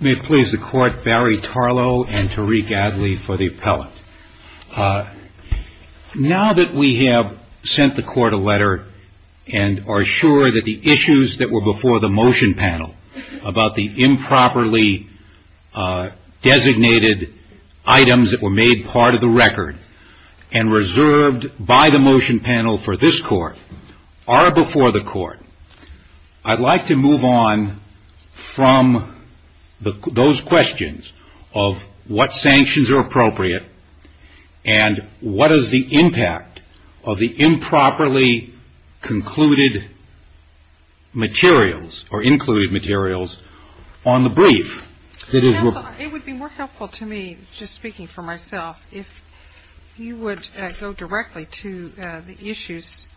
May it please the court, Barry Tarallo and Tariq Adly for the appellate. Now that we have sent the court a letter and are sure that the issues that were before the motion panel about the improperly designated items that were made part of the record and reserved by the motion panel for this court are in the hands of the appellate. are before the court, I'd like to move on from those questions of what sanctions are appropriate and what is the impact of the improperly concluded materials or included materials on the brief. It would be more helpful to me just speaking for myself. If you would go directly to the issues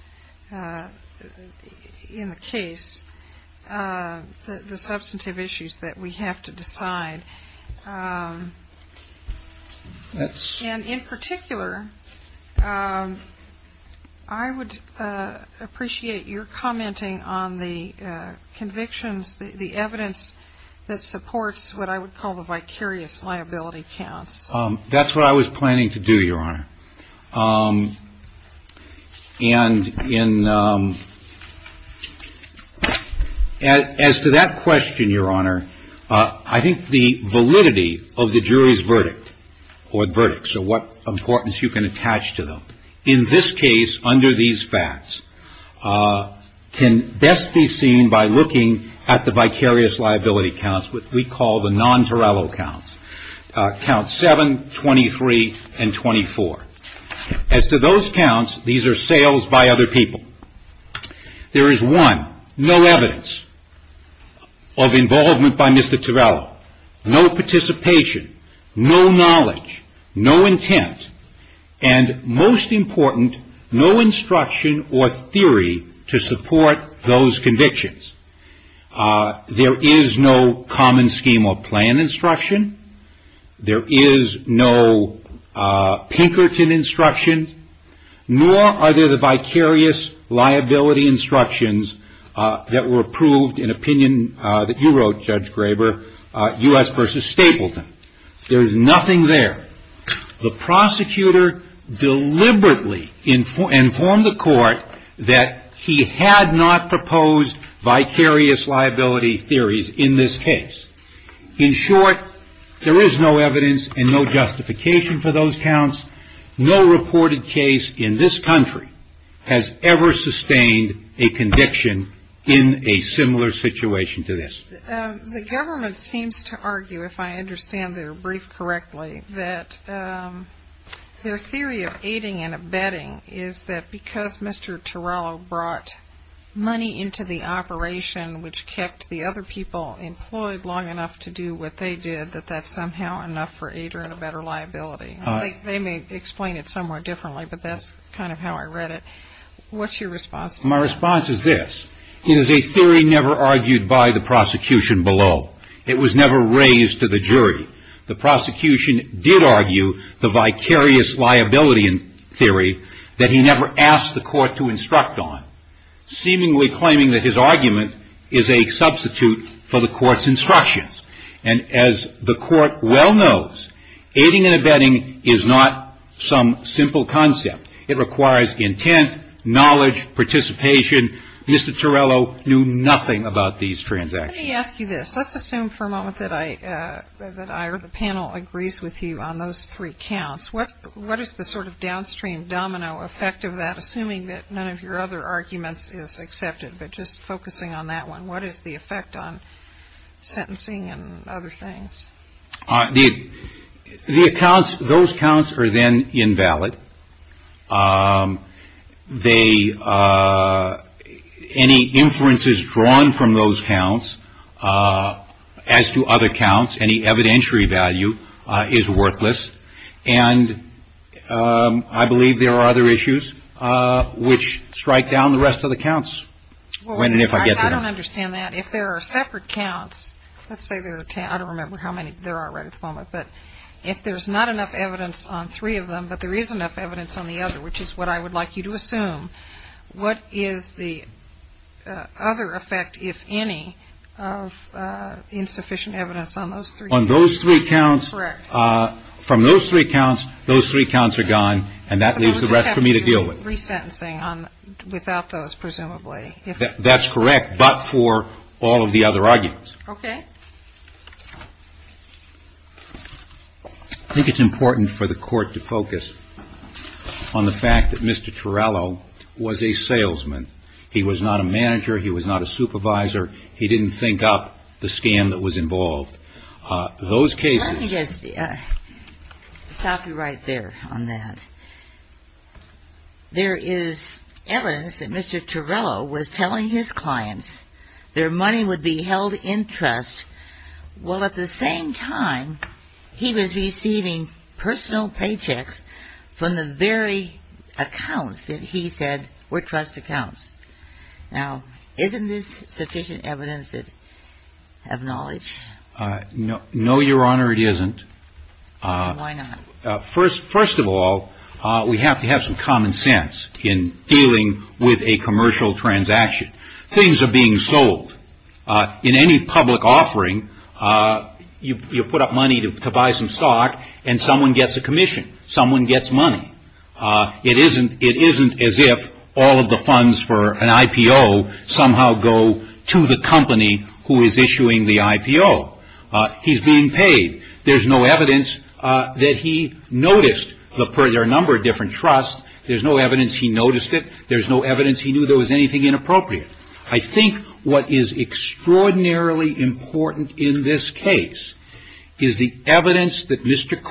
in the case, the substantive issues that we have to decide. And in particular, I would appreciate your commenting on the convictions, the evidence that supports what I would call the vicarious liability counts. That's what I was planning to do, Your Honor. And as to that question, Your Honor, I think the validity of the jury's verdict or verdict, so what importance you can attach to them, in this case under these facts, can best be seen by looking at the vicarious liability counts, what we call the non-Tarallo counts. Counts 7, 23, and 24. As to those counts, these are sales by other people. There is one, no evidence of involvement by Mr. Tarallo, no participation, no knowledge, no intent, and most important, no instruction or theory to support those convictions. There is no common scheme or plan instruction. There is no Pinkerton instruction, nor are there the vicarious liability instructions that were approved in opinion that you wrote, Judge Graber, U.S. v. Stapleton. There is nothing there. The prosecutor deliberately informed the court that he had not proposed vicarious liability theories in this case. In short, there is no evidence and no justification for those counts. No reported case in this country has ever sustained a conviction in a similar situation to this. The government seems to argue, if I understand their brief correctly, that their theory of aiding and abetting is that because Mr. Tarallo brought money into the operation which kept the other people employed long enough to do what they did, that that's somehow enough for aid and a better liability. They may explain it somewhat differently, but that's kind of how I read it. What's your response to that? My response is this. It is a theory never argued by the prosecution below. It was never raised to the jury. The prosecution did argue the vicarious liability theory that he never asked the court to instruct on, seemingly claiming that his argument is a substitute for the court's instructions. And as the court well knows, aiding and abetting is not some simple concept. It requires intent, knowledge, participation. Mr. Tarallo knew nothing about these transactions. Let me ask you this. Let's assume for a moment that I or the panel agrees with you on those three counts. What is the sort of downstream domino effect of that, assuming that none of your other arguments is accepted, but just focusing on that one? What is the effect on sentencing and other things? The accounts, those counts are then invalid. They any inferences drawn from those counts as to other counts, any evidentiary value is worthless. And I believe there are other issues which strike down the rest of the counts when and if I get to them. I don't understand that. If there are separate counts, let's say there are ten, I don't remember how many there are right at the moment, but if there's not enough evidence on three of them, but there is enough evidence on the other, which is what I would like you to assume, what is the other effect, if any, of insufficient evidence on those three counts? On those three counts, from those three counts, those three counts are gone, and that leaves the rest for me to deal with. I think it's important for the Court to focus on the fact that Mr. Torello was a salesman. He was not a manager. He was not a supervisor. He didn't think up the scam that was involved. Those cases Let me just stop you right there on that. There is evidence that Mr. Torello was telling his clients their money would be held in trust while at the same time he was receiving personal paychecks from the very accounts that he said were trust accounts. Now, isn't this sufficient evidence to have knowledge? No, Your Honor, it isn't. Why not? First of all, we have to have some common sense in dealing with a commercial transaction. Things are being sold. In any public offering, you put up money to buy some stock, and someone gets a commission. Someone gets money. It isn't as if all of the funds for an IPO somehow go to the company who is issuing the IPO. He's being paid. There's no evidence that he noticed the number of different trusts. There's no evidence he noticed it. There's no evidence he knew there was anything inappropriate. I think what is extraordinarily important in this case is the evidence that Mr.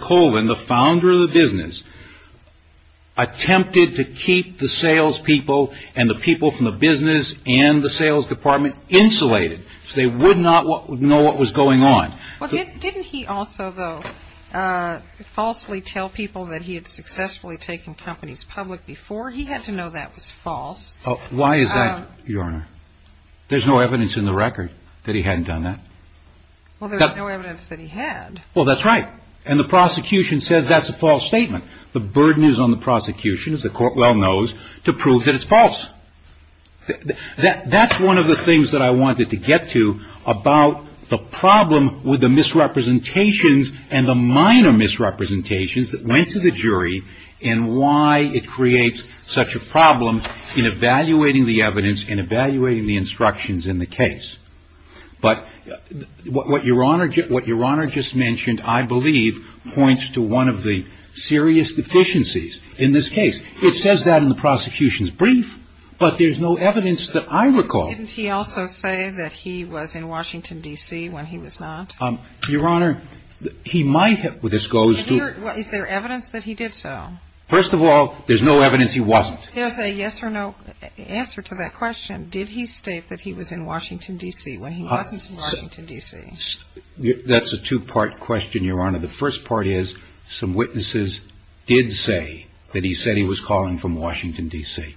Colvin, the founder of the business, attempted to keep the salespeople and the people from the business and the sales department insulated so they would not know what was going on. Well, didn't he also, though, falsely tell people that he had successfully taken companies public before? He had to know that was false. Why is that, Your Honor? There's no evidence in the record that he hadn't done that. Well, there's no evidence that he had. Well, that's right. And the prosecution says that's a false statement. The burden is on the prosecution, as the Court well knows, to prove that it's false. That's one of the things that I wanted to get to about the problem with the misrepresentations and the minor misrepresentations that went to the jury and why it creates such a problem in evaluating the evidence and evaluating the instructions in the case. But what Your Honor just mentioned, I believe, points to one of the serious deficiencies in this case. It says that in the prosecution's brief, but there's no evidence that I recall. Didn't he also say that he was in Washington, D.C. when he was not? Your Honor, he might have. Is there evidence that he did so? First of all, there's no evidence he wasn't. There's a yes or no answer to that question. Did he state that he was in Washington, D.C. when he wasn't in Washington, D.C.? That's a two-part question, Your Honor. The first part is some witnesses did say that he said he was calling from Washington, D.C.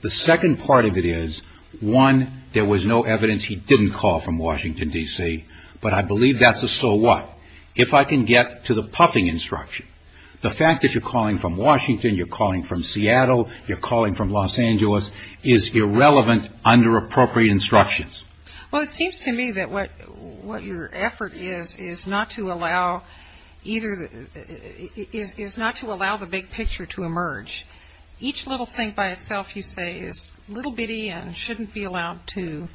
The second part of it is, one, there was no evidence he didn't call from Washington, D.C., but I believe that's a so what. If I can get to the puffing instruction, the fact that you're calling from Washington, you're calling from Seattle, you're calling from Los Angeles is irrelevant under appropriate instructions. Well, it seems to me that what your effort is is not to allow the big picture to emerge. Each little thing by itself, you say, is little bitty and shouldn't be allowed to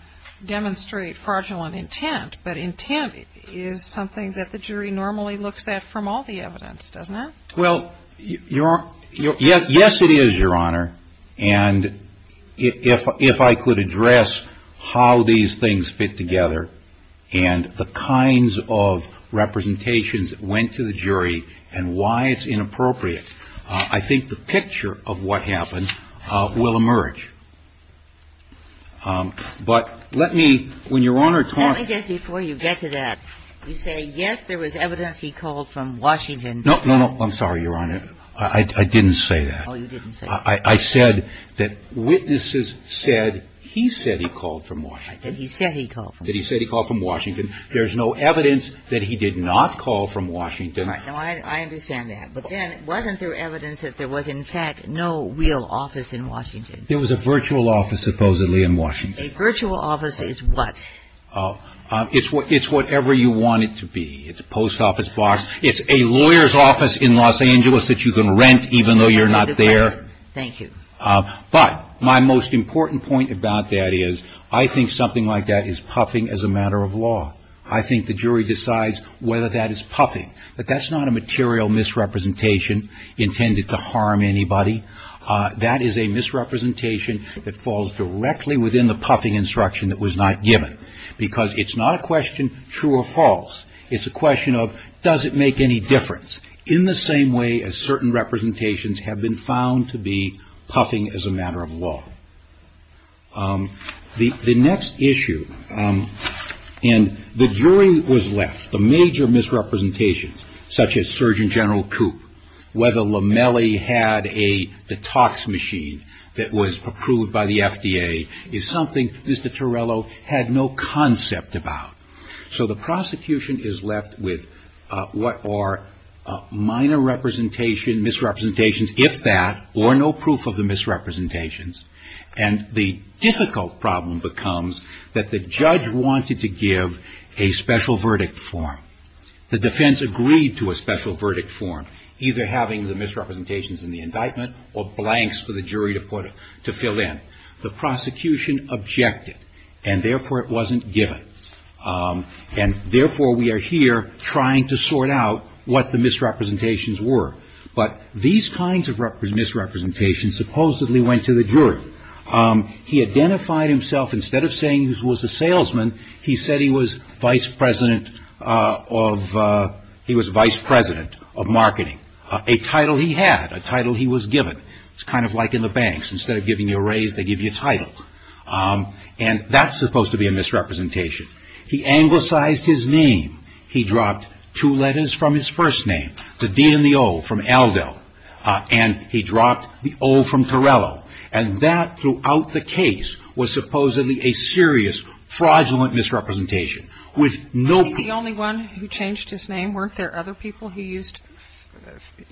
demonstrate fraudulent intent, but intent is something that the jury normally looks at from all the evidence, doesn't it? Well, yes, it is, Your Honor. And if I could address how these things fit together and the kinds of representations that went to the jury and why it's inappropriate, I think the picture of what happened will emerge. But let me, when Your Honor talks Let me just, before you get to that, you say, yes, there was evidence he called from Washington. No, no, no. I'm sorry, Your Honor. I didn't say that. Oh, you didn't say that. I said that witnesses said he said he called from Washington. He said he called from Washington. That he said he called from Washington. There's no evidence that he did not call from Washington. I understand that. But then wasn't there evidence that there was, in fact, no real office in Washington? There was a virtual office, supposedly, in Washington. A virtual office is what? It's whatever you want it to be. It's a post office box. It's a lawyer's office in Los Angeles that you can rent even though you're not there. Thank you. But my most important point about that is I think something like that is puffing as a matter of law. I think the jury decides whether that is puffing. But that's not a material misrepresentation intended to harm anybody. That is a misrepresentation that falls directly within the puffing instruction that was not given. Because it's not a question true or false. It's a question of does it make any difference in the same way as certain representations have been found to be puffing as a matter of law. The next issue, and the jury was left. The major misrepresentations, such as Surgeon General Coop, whether Lamelli had a detox machine that was approved by the FDA, is something Mr. Torello had no concept about. So the prosecution is left with what are minor misrepresentations, if that, or no proof of the misrepresentations. And the difficult problem becomes that the judge wanted to give a special verdict form. The defense agreed to a special verdict form, either having the misrepresentations in the indictment or blanks for the jury to fill in. The prosecution objected, and therefore it wasn't given. And therefore we are here trying to sort out what the misrepresentations were. But these kinds of misrepresentations supposedly went to the jury. He identified himself, instead of saying he was a salesman, he said he was vice president of marketing. A title he had, a title he was given. It's kind of like in the banks. Instead of giving you a raise, they give you a title. And that's supposed to be a misrepresentation. He anglicized his name. He dropped two letters from his first name, the D and the O from Aldo, and he dropped the O from Torello. And that throughout the case was supposedly a serious fraudulent misrepresentation with no proof. And I'm going to be asking you about the names of the people that you used. Is there anyone who changed his name? Weren't there other people he used,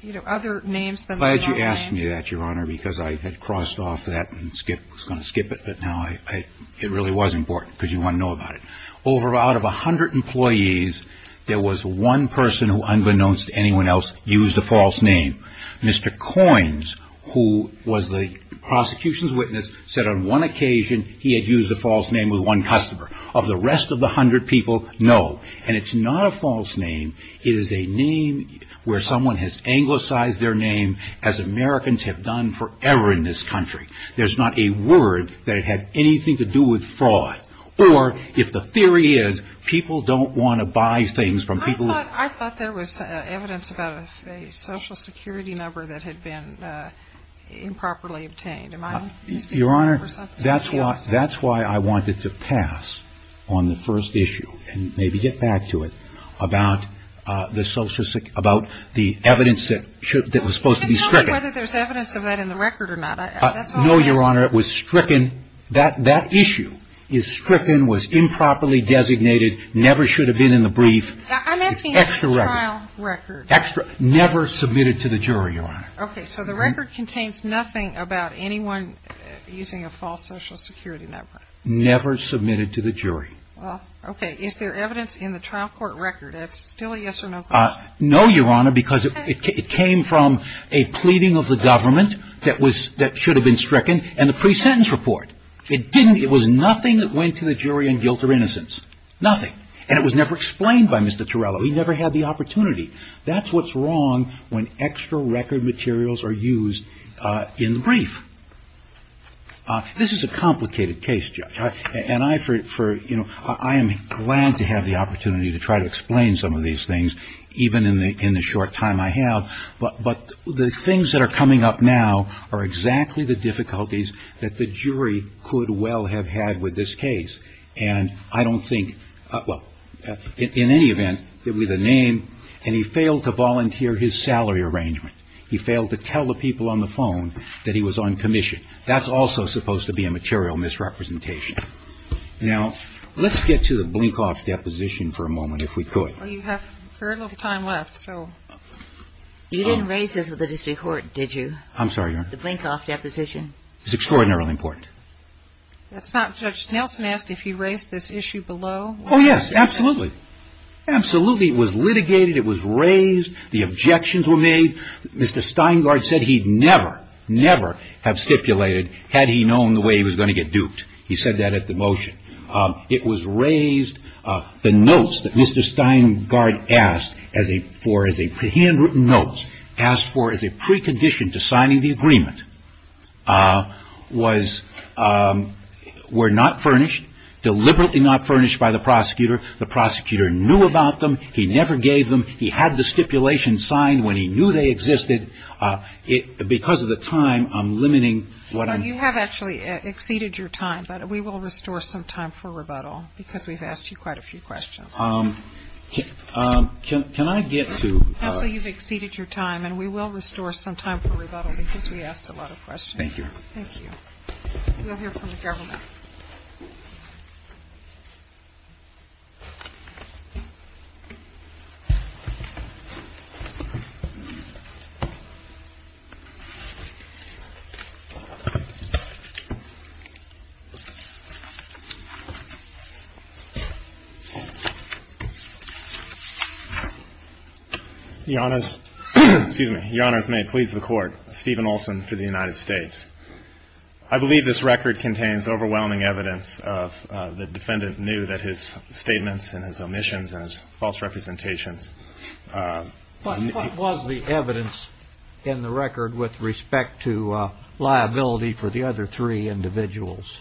you know, other names than the one I used? I'm glad you asked me that, Your Honor, because I had crossed off that and was going to skip it. But now I – it really was important because you want to know about it. Over out of 100 employees, there was one person who, unbeknownst to anyone else, used a false name. Mr. Coynes, who was the prosecution's witness, said on one occasion he had used a false name with one customer. Of the rest of the 100 people, no. And it's not a false name. It is a name where someone has anglicized their name, as Americans have done forever in this country. There's not a word that it had anything to do with fraud. Or, if the theory is, people don't want to buy things from people who – I thought there was evidence about a Social Security number that had been improperly obtained. Am I mistaken? Your Honor, that's why I wanted to pass on the first issue and maybe get back to it about the evidence that was supposed to be stricken. I just don't think whether there's evidence of that in the record or not. No, Your Honor. It was stricken. That issue is stricken, was improperly designated, never should have been in the brief. It's extra record. I'm asking about the trial record. Extra. Never submitted to the jury, Your Honor. Okay. So the record contains nothing about anyone using a false Social Security number. Never submitted to the jury. Is there evidence in the trial court record? It's still a yes or no question. No, Your Honor, because it came from a pleading of the government that was – that should have been stricken and the pre-sentence report. It didn't – it was nothing that went to the jury on guilt or innocence. Nothing. And it was never explained by Mr. Torello. He never had the opportunity. That's what's wrong when extra record materials are used in the brief. This is a complicated case, Judge. And I, for – you know, I am glad to have the opportunity to try to explain some of these things, even in the short time I have. But the things that are coming up now are exactly the difficulties that the jury could well have had with this case. And I don't think – well, in any event, with a name, and he failed to volunteer his salary arrangement. He failed to tell the people on the phone that he was on commission. That's also supposed to be a material misrepresentation. Now, let's get to the Blinkoff deposition for a moment, if we could. Well, you have a fair amount of time left, so. You didn't raise this with the district court, did you? I'm sorry, Your Honor. The Blinkoff deposition. It's extraordinarily important. That's not – Judge Nelson asked if you raised this issue below. Oh, yes. Absolutely. Absolutely. It was litigated. It was raised. The objections were made. Mr. Steingart said he'd never, never have stipulated had he known the way he was going to get duped. He said that at the motion. It was raised. The notes that Mr. Steingart asked for as a – handwritten notes asked for as a precondition to signing the agreement was – were not furnished, deliberately not furnished by the prosecutor. The prosecutor knew about them. He never gave them. He had the stipulation signed when he knew they existed. Because of the time, I'm limiting what I'm – You have actually exceeded your time, but we will restore some time for rebuttal because we've asked you quite a few questions. Can I get to – You've exceeded your time, and we will restore some time for rebuttal because we asked a lot of questions. Thank you. Thank you. We'll hear from the government. Your Honor, excuse me. Your Honor, as may it please the Court, Stephen Olsen for the United States. I believe this record contains overwhelming evidence of the defendant knew that his statements and his omissions and his false representations. What was the evidence in the record with respect to liability for the other three individuals,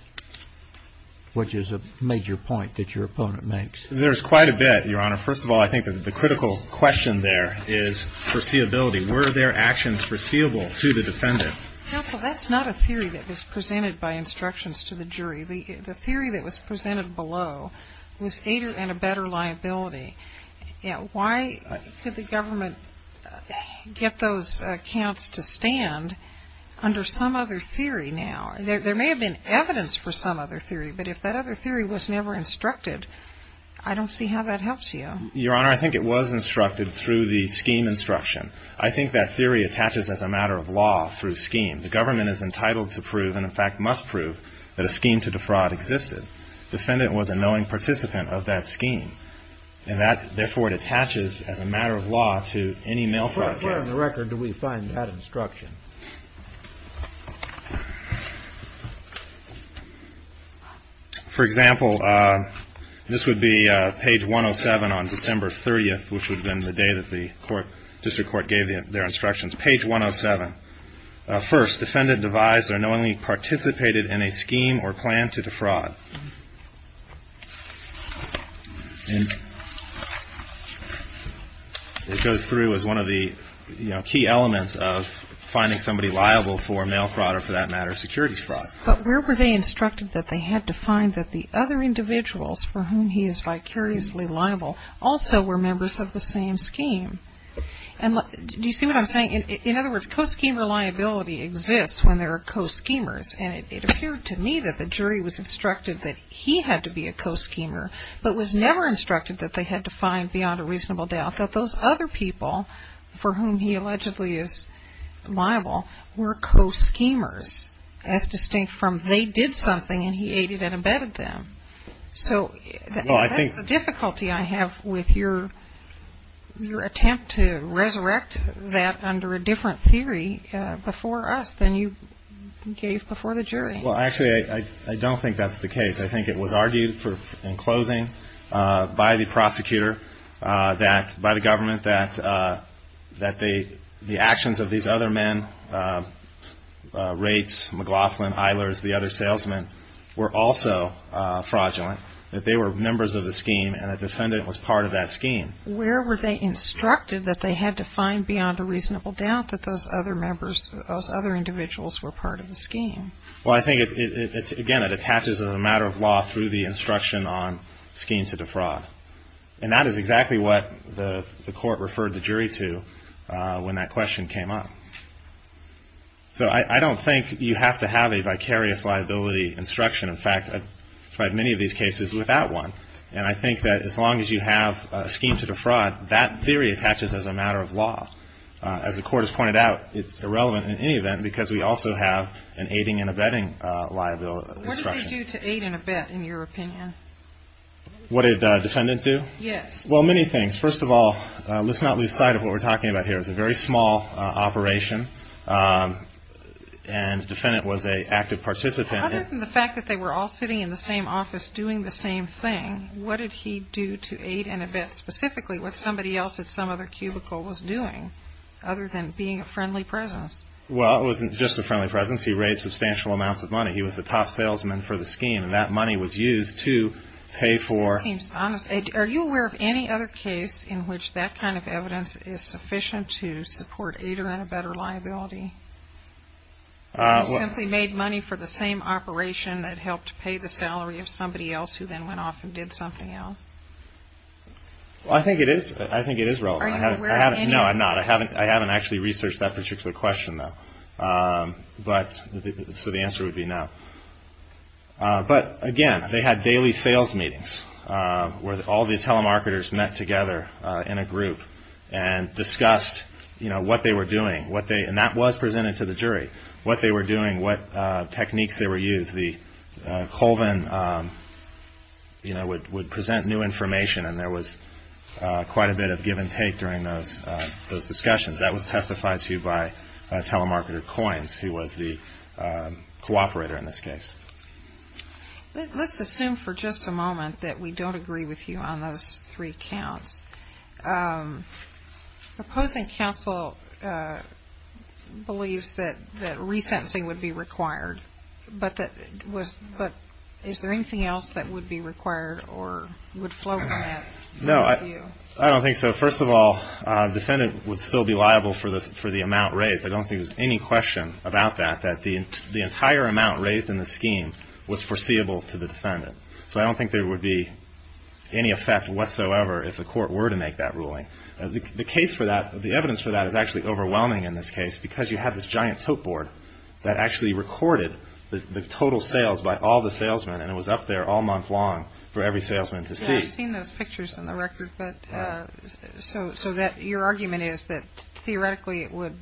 which is a major point that your opponent makes? There's quite a bit, Your Honor. First of all, I think that the critical question there is foreseeability. Were there actions foreseeable to the defendant? Counsel, that's not a theory that was presented by instructions to the jury. The theory that was presented below was aidor and a better liability. Why could the government get those accounts to stand under some other theory now? There may have been evidence for some other theory, but if that other theory was never instructed, I don't see how that helps you. Your Honor, I think it was instructed through the scheme instruction. I think that theory attaches as a matter of law through scheme. The government is entitled to prove and, in fact, must prove that a scheme to defraud existed. Defendant was a knowing participant of that scheme, and therefore it attaches as a matter of law to any mail fraud case. Where on the record do we find that instruction? For example, this would be page 107 on December 30th, which would have been the day that the district court gave their instructions. Page 107. First, defendant devised or knowingly participated in a scheme or plan to defraud. It goes through as one of the key elements of finding somebody liable for mail fraud or, for that matter, securities fraud. But where were they instructed that they had to find that the other individuals for whom he is vicariously liable also were members of the same scheme? Do you see what I'm saying? In other words, co-schemer liability exists when there are co-schemers. And it appeared to me that the jury was instructed that he had to be a co-schemer, but was never instructed that they had to find beyond a reasonable doubt that those other people for whom he allegedly is liable were co-schemers, as distinct from they did something and he aided and abetted them. So that's the difficulty I have with your attempt to resurrect that under a different theory before us than you gave before the jury. Well, actually, I don't think that's the case. I think it was argued in closing by the prosecutor, by the government, that the actions of these other men, Reitz, McLaughlin, Eilers, the other salesmen, were also fraudulent, that they were members of the scheme and the defendant was part of that scheme. Where were they instructed that they had to find beyond a reasonable doubt that those other individuals were part of the scheme? Well, I think, again, it attaches as a matter of law through the instruction on scheme to defraud. And that is exactly what the Court referred the jury to when that question came up. So I don't think you have to have a vicarious liability instruction. In fact, I've tried many of these cases without one. And I think that as long as you have a scheme to defraud, that theory attaches as a matter of law. As the Court has pointed out, it's irrelevant in any event because we also have an aiding and abetting liability instruction. What did they do to aid and abet, in your opinion? What did the defendant do? Yes. Well, many things. First of all, let's not lose sight of what we're talking about here. It was a very small operation and the defendant was an active participant. Other than the fact that they were all sitting in the same office doing the same thing, what did he do to aid and abet specifically what somebody else at some other cubicle was doing, other than being a friendly presence? Well, it wasn't just a friendly presence. He raised substantial amounts of money. He was the top salesman for the scheme, and that money was used to pay for... It seems honest. Are you aware of any other case in which that kind of evidence is sufficient to support aid or abet or liability? Or simply made money for the same operation that helped pay the salary of somebody else who then went off and did something else? Well, I think it is relevant. Are you aware of any? No, I'm not. I haven't actually researched that particular question, though. So the answer would be no. But, again, they had daily sales meetings where all the telemarketers met together in a group and discussed what they were doing, and that was presented to the jury, what they were doing, what techniques they were using. Colvin would present new information, and there was quite a bit of give and take during those discussions. That was testified to by telemarketer Coynes, who was the cooperator in this case. Let's assume for just a moment that we don't agree with you on those three counts. Opposing counsel believes that resentencing would be required, but is there anything else that would be required or would flow from that view? No, I don't think so. First of all, the defendant would still be liable for the amount raised. I don't think there's any question about that, that the entire amount raised in the scheme was foreseeable to the defendant. So I don't think there would be any effect whatsoever if the court were to make that ruling. The evidence for that is actually overwhelming in this case because you have this giant tote board that actually recorded the total sales by all the salesmen, and it was up there all month long for every salesman to see. I've seen those pictures in the record, so your argument is that theoretically it would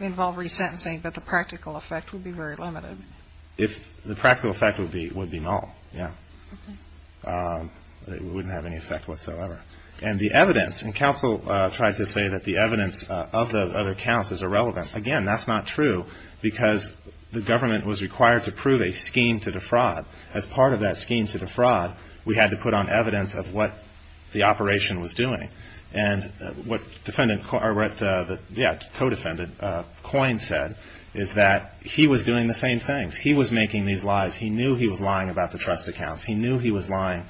involve resentencing, but the practical effect would be very limited. The practical effect would be null. It wouldn't have any effect whatsoever. And the evidence, and counsel tried to say that the evidence of those other counts is irrelevant. Again, that's not true because the government was required to prove a scheme to defraud. As part of that scheme to defraud, we had to put on evidence of what the operation was doing. And what the co-defendant, Coyne, said is that he was doing the same things. He was making these lies. He knew he was lying about the trust accounts. He knew he was lying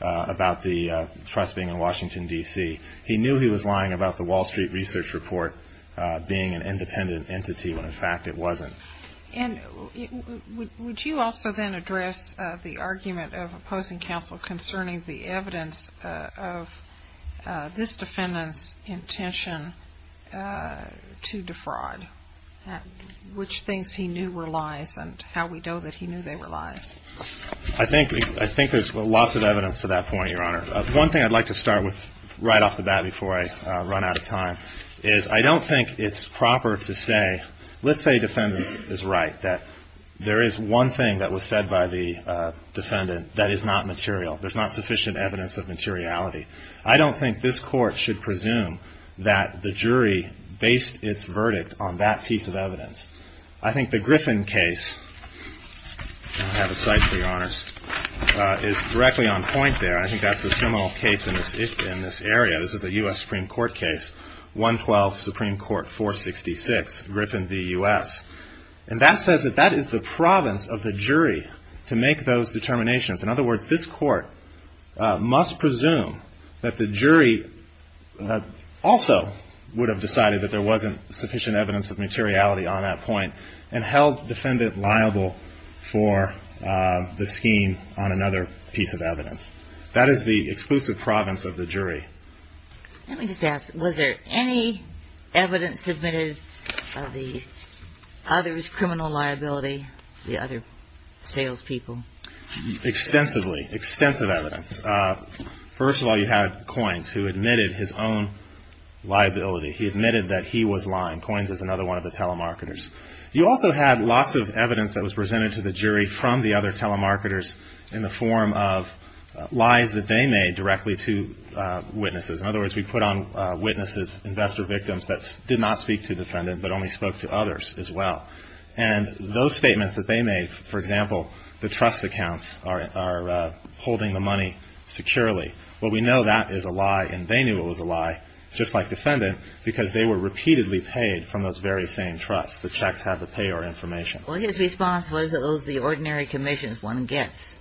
about the trust being in Washington, D.C. He knew he was lying about the Wall Street Research Report being an independent entity, when in fact it wasn't. And would you also then address the argument of opposing counsel concerning the evidence of this defendant's intention to defraud, which things he knew were lies and how we know that he knew they were lies? I think there's lots of evidence to that point, Your Honor. One thing I'd like to start with right off the bat before I run out of time is I don't think it's proper to say, let's say a defendant is right, that there is one thing that was said by the defendant that is not material. There's not sufficient evidence of materiality. I don't think this Court should presume that the jury based its verdict on that piece of evidence. I think the Griffin case, I have a cite for you, Your Honors, is directly on point there. I think that's the seminal case in this area. This is a U.S. Supreme Court case, 112 Supreme Court 466. It's Griffin v. U.S. And that says that that is the province of the jury to make those determinations. In other words, this Court must presume that the jury also would have decided that there wasn't sufficient evidence of materiality on that point and held the defendant liable for the scheme on another piece of evidence. That is the exclusive province of the jury. Let me just ask, was there any evidence submitted of the other's criminal liability, the other salespeople? Extensively, extensive evidence. First of all, you had Coins, who admitted his own liability. He admitted that he was lying. Coins is another one of the telemarketers. You also had lots of evidence that was presented to the jury from the other telemarketers in the form of lies that they made directly to witnesses. In other words, we put on witnesses, investor victims, that did not speak to the defendant but only spoke to others as well. And those statements that they made, for example, the trust accounts are holding the money securely. Well, we know that is a lie, and they knew it was a lie, just like defendant, because they were repeatedly paid from those very same trusts. The checks had the payer information. Well, his response was that those are the ordinary commissions one gets.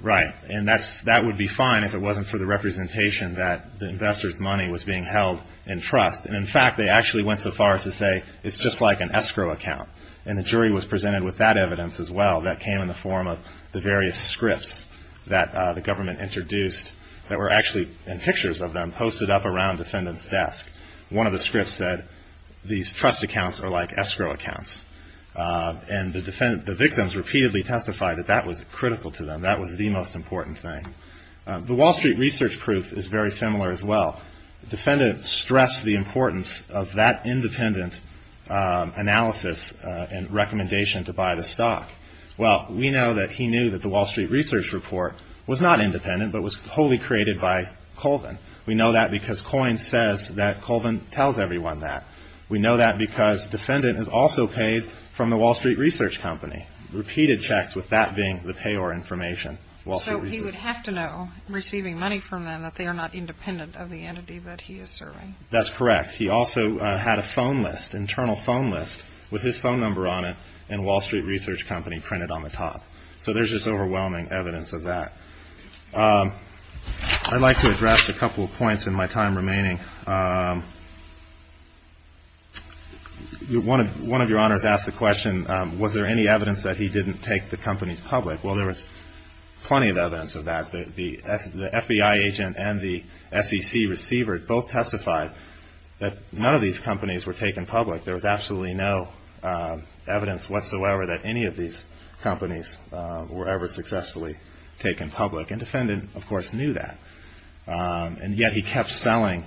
Right. And that would be fine if it wasn't for the representation that the investor's money was being held in trust. And, in fact, they actually went so far as to say it's just like an escrow account. And the jury was presented with that evidence as well that came in the form of the various scripts that the government introduced that were actually in pictures of them posted up around defendant's desk. One of the scripts said, these trust accounts are like escrow accounts. And the victims repeatedly testified that that was critical to them. That was the most important thing. The Wall Street Research Proof is very similar as well. The defendant stressed the importance of that independent analysis and recommendation to buy the stock. Well, we know that he knew that the Wall Street Research Report was not independent but was wholly created by Colvin. We know that because Coyne says that Colvin tells everyone that. We know that because defendant is also paid from the Wall Street Research Company. Repeated checks with that being the payer information. So he would have to know, receiving money from them, that they are not independent of the entity that he is serving. That's correct. He also had a phone list, internal phone list, with his phone number on it and Wall Street Research Company printed on the top. So there's just overwhelming evidence of that. I'd like to address a couple of points in my time remaining. One of your honors asked the question, was there any evidence that he didn't take the companies public? Well, there was plenty of evidence of that. The FBI agent and the SEC receiver both testified that none of these companies were taken public. There was absolutely no evidence whatsoever that any of these companies were ever successfully taken public. And defendant, of course, knew that. And yet he kept selling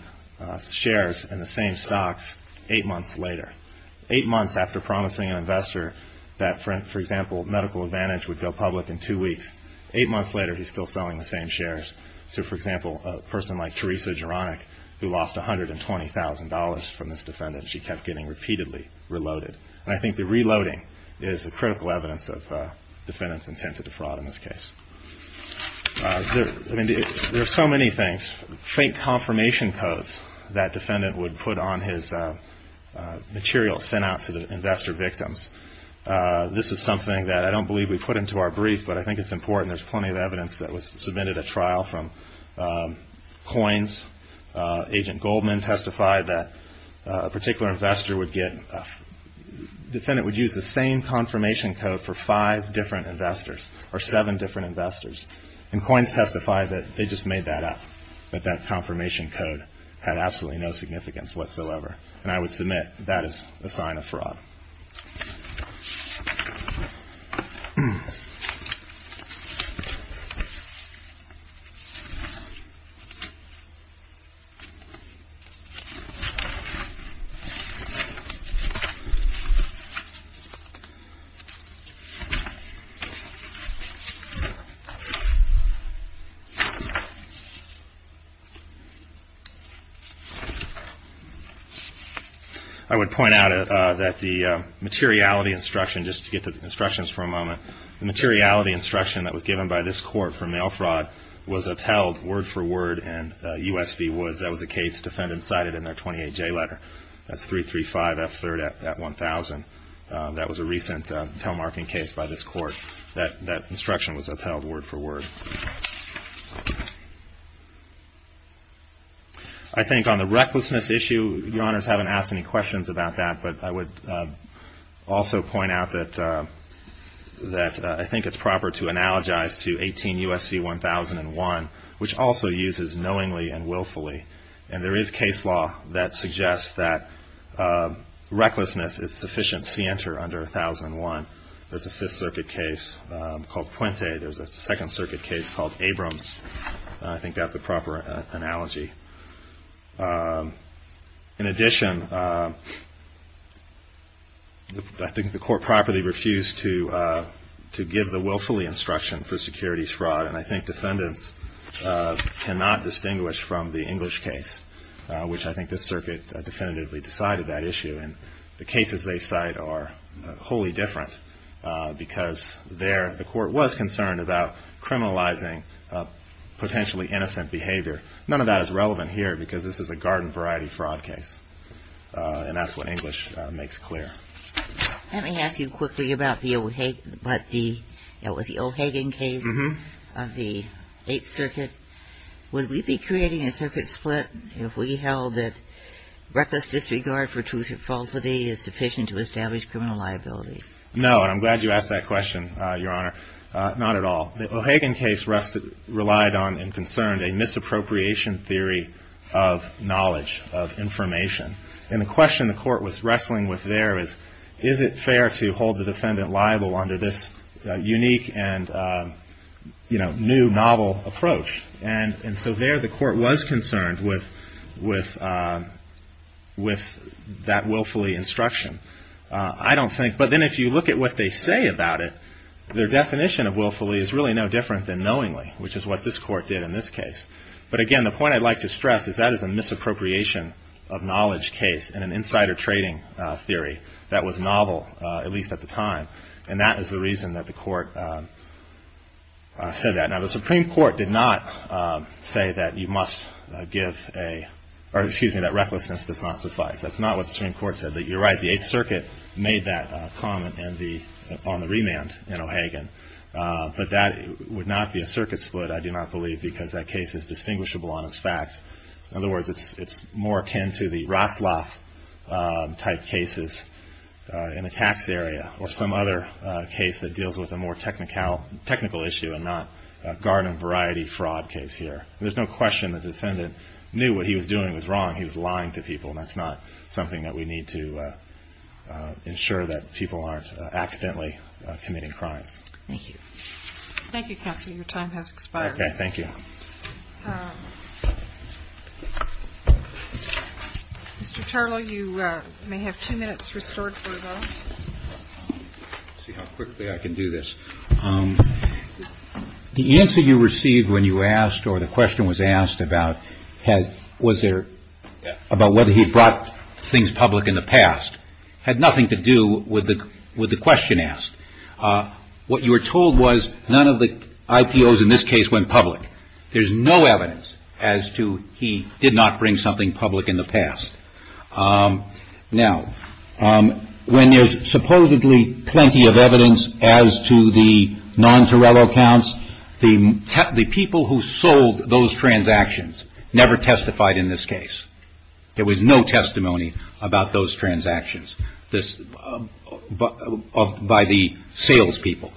shares in the same stocks eight months later. Eight months after promising an investor that, for example, Medical Advantage would go public in two weeks, eight months later he's still selling the same shares to, for example, a person like Teresa Geronik who lost $120,000 from this defendant. And she kept getting repeatedly reloaded. And I think the reloading is the critical evidence of defendant's intent to defraud in this case. There are so many things, fake confirmation codes that defendant would put on his material sent out to the investor victims. This is something that I don't believe we put into our brief, but I think it's important. There's plenty of evidence that was submitted at trial from coins. Agent Goldman testified that a particular investor would get – defendant would use the same confirmation code for five different investors or seven different investors. And coins testified that they just made that up, that that confirmation code had absolutely no significance whatsoever. And I would submit that is a sign of fraud. I would point out that the – the materiality instruction, just to get to the instructions for a moment, the materiality instruction that was given by this court for mail fraud was upheld word for word in U.S. v. Woods. That was a case defendant cited in their 28J letter. That's 335 F3rd at 1000. That was a recent telemarketing case by this court. That instruction was upheld word for word. I think on the recklessness issue, Your Honors haven't asked any questions about that, but I would also point out that I think it's proper to analogize to 18 U.S.C. 1001, which also uses knowingly and willfully. And there is case law that suggests that recklessness is sufficient scienter under 1001. There's a Fifth Circuit case called Puente. There's a Second Circuit case called Abrams. I think that's a proper analogy. In addition, I think the court properly refused to give the willfully instruction for securities fraud, and I think defendants cannot distinguish from the English case, which I think this circuit definitively decided that issue. And the cases they cite are wholly different because there the court was concerned about criminalizing potentially innocent behavior. None of that is relevant here because this is a garden variety fraud case, and that's what English makes clear. Let me ask you quickly about the O'Hagan case of the Eighth Circuit. Would we be creating a circuit split if we held that reckless disregard for truth or falsity is sufficient to establish criminal liability? No, and I'm glad you asked that question, Your Honor. Not at all. The O'Hagan case relied on and concerned a misappropriation theory of knowledge, of information. And the question the court was wrestling with there is, is it fair to hold the defendant liable under this unique and new novel approach? And so there the court was concerned with that willfully instruction. I don't think, but then if you look at what they say about it, their definition of willfully is really no different than knowingly, which is what this court did in this case. But again, the point I'd like to stress is that is a misappropriation of knowledge case and an insider trading theory that was novel, at least at the time. And that is the reason that the court said that. Now, the Supreme Court did not say that you must give a, or excuse me, that recklessness does not suffice. That's not what the Supreme Court said. But you're right, the Eighth Circuit made that comment on the remand in O'Hagan. But that would not be a circuit split, I do not believe, because that case is distinguishable on its fact. In other words, it's more akin to the Rosloff type cases in a tax area or some other case that deals with a more technical issue and not garden variety fraud case here. There's no question the defendant knew what he was doing was wrong. He was lying to people. And that's not something that we need to ensure that people aren't accidentally committing crimes. Thank you. Thank you, counsel. Your time has expired. Okay, thank you. Mr. Tarlow, you may have two minutes restored for the vote. Let's see how quickly I can do this. The answer you received when you asked or the question was asked about was there, about whether he brought things public in the past, had nothing to do with the question asked. What you were told was none of the IPOs in this case went public. There's no evidence as to he did not bring something public in the past. Now, when there's supposedly plenty of evidence as to the non-Torello counts, the people who sold those transactions never testified in this case. There was no testimony about those transactions by the salespeople.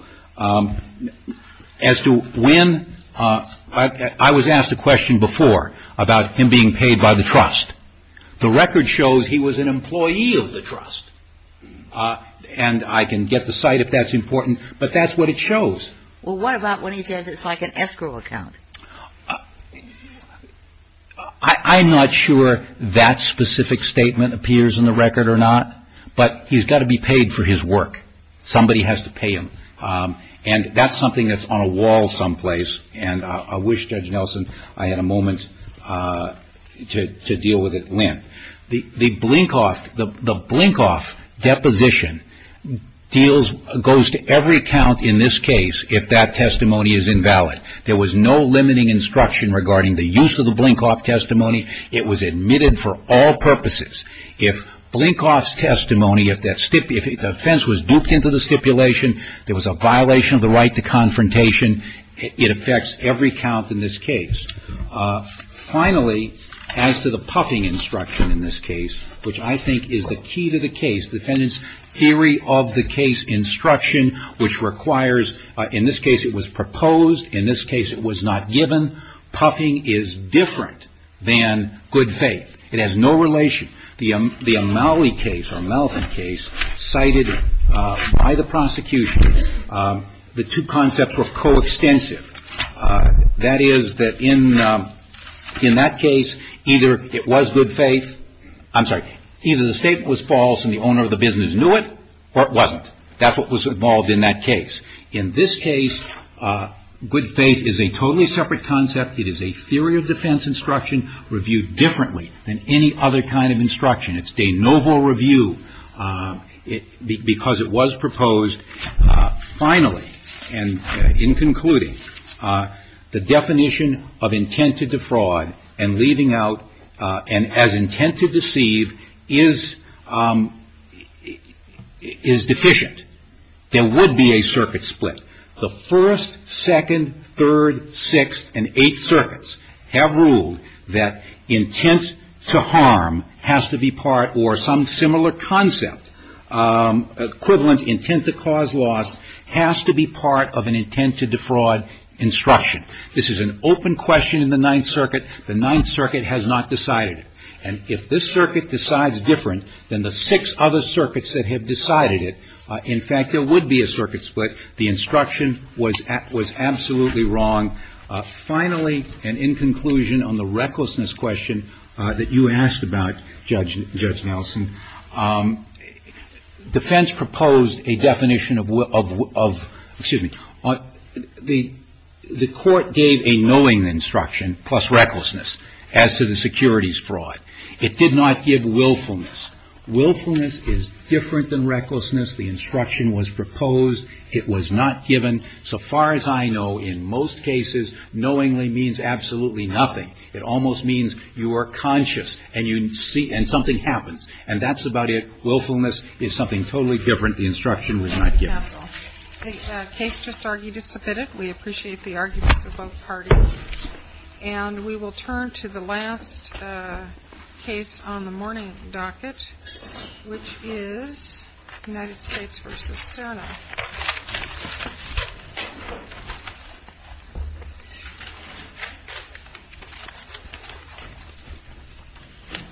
As to when, I was asked a question before about him being paid by the trust. The record shows he was an employee of the trust. And I can get the site if that's important, but that's what it shows. Well, what about when he says it's like an escrow account? I'm not sure that specific statement appears in the record or not, but he's got to be paid for his work. Somebody has to pay him. And that's something that's on a wall someplace. And I wish Judge Nelson I had a moment to deal with it then. The blink-off deposition goes to every count in this case if that testimony is invalid. There was no limiting instruction regarding the use of the blink-off testimony. It was admitted for all purposes. If blink-off's testimony, if the offense was duped into the stipulation, there was a violation of the right to confrontation, it affects every count in this case. Finally, as to the puffing instruction in this case, which I think is the key to the case, defendant's theory of the case instruction, which requires, in this case it was proposed, in this case it was not given, puffing is different than good faith. It has no relation. The Amaui case, or Melvin case, cited by the prosecution, the two concepts were coextensive. That is, that in that case, either it was good faith, I'm sorry, either the statement was false and the owner of the business knew it or it wasn't. That's what was involved in that case. In this case, good faith is a totally separate concept. It is a theory of defense instruction reviewed differently than any other kind of instruction. It's de novo review because it was proposed. Finally, and in concluding, the definition of intent to defraud and leaving out and as intent to deceive is deficient. There would be a circuit split. The first, second, third, sixth and eighth circuits have ruled that intent to harm has to be part or some similar concept, equivalent intent to cause loss, has to be part of an intent to defraud instruction. This is an open question in the Ninth Circuit. The Ninth Circuit has not decided it. And if this circuit decides different than the six other circuits that have decided it, in fact, there would be a circuit split. The instruction was absolutely wrong. Finally, and in conclusion on the recklessness question that you asked about, Judge Nelson, defense proposed a definition of, excuse me, the court gave a knowing instruction plus recklessness as to the securities fraud. It did not give willfulness. Willfulness is different than recklessness. The instruction was proposed. It was not given. So far as I know, in most cases, knowingly means absolutely nothing. It almost means you are conscious and you see and something happens. And that's about it. Willfulness is something totally different. The instruction was not given. Thank you, counsel. The case just argued is submitted. We appreciate the arguments of both parties. And we will turn to the last case on the morning docket, which is United States v. SANA.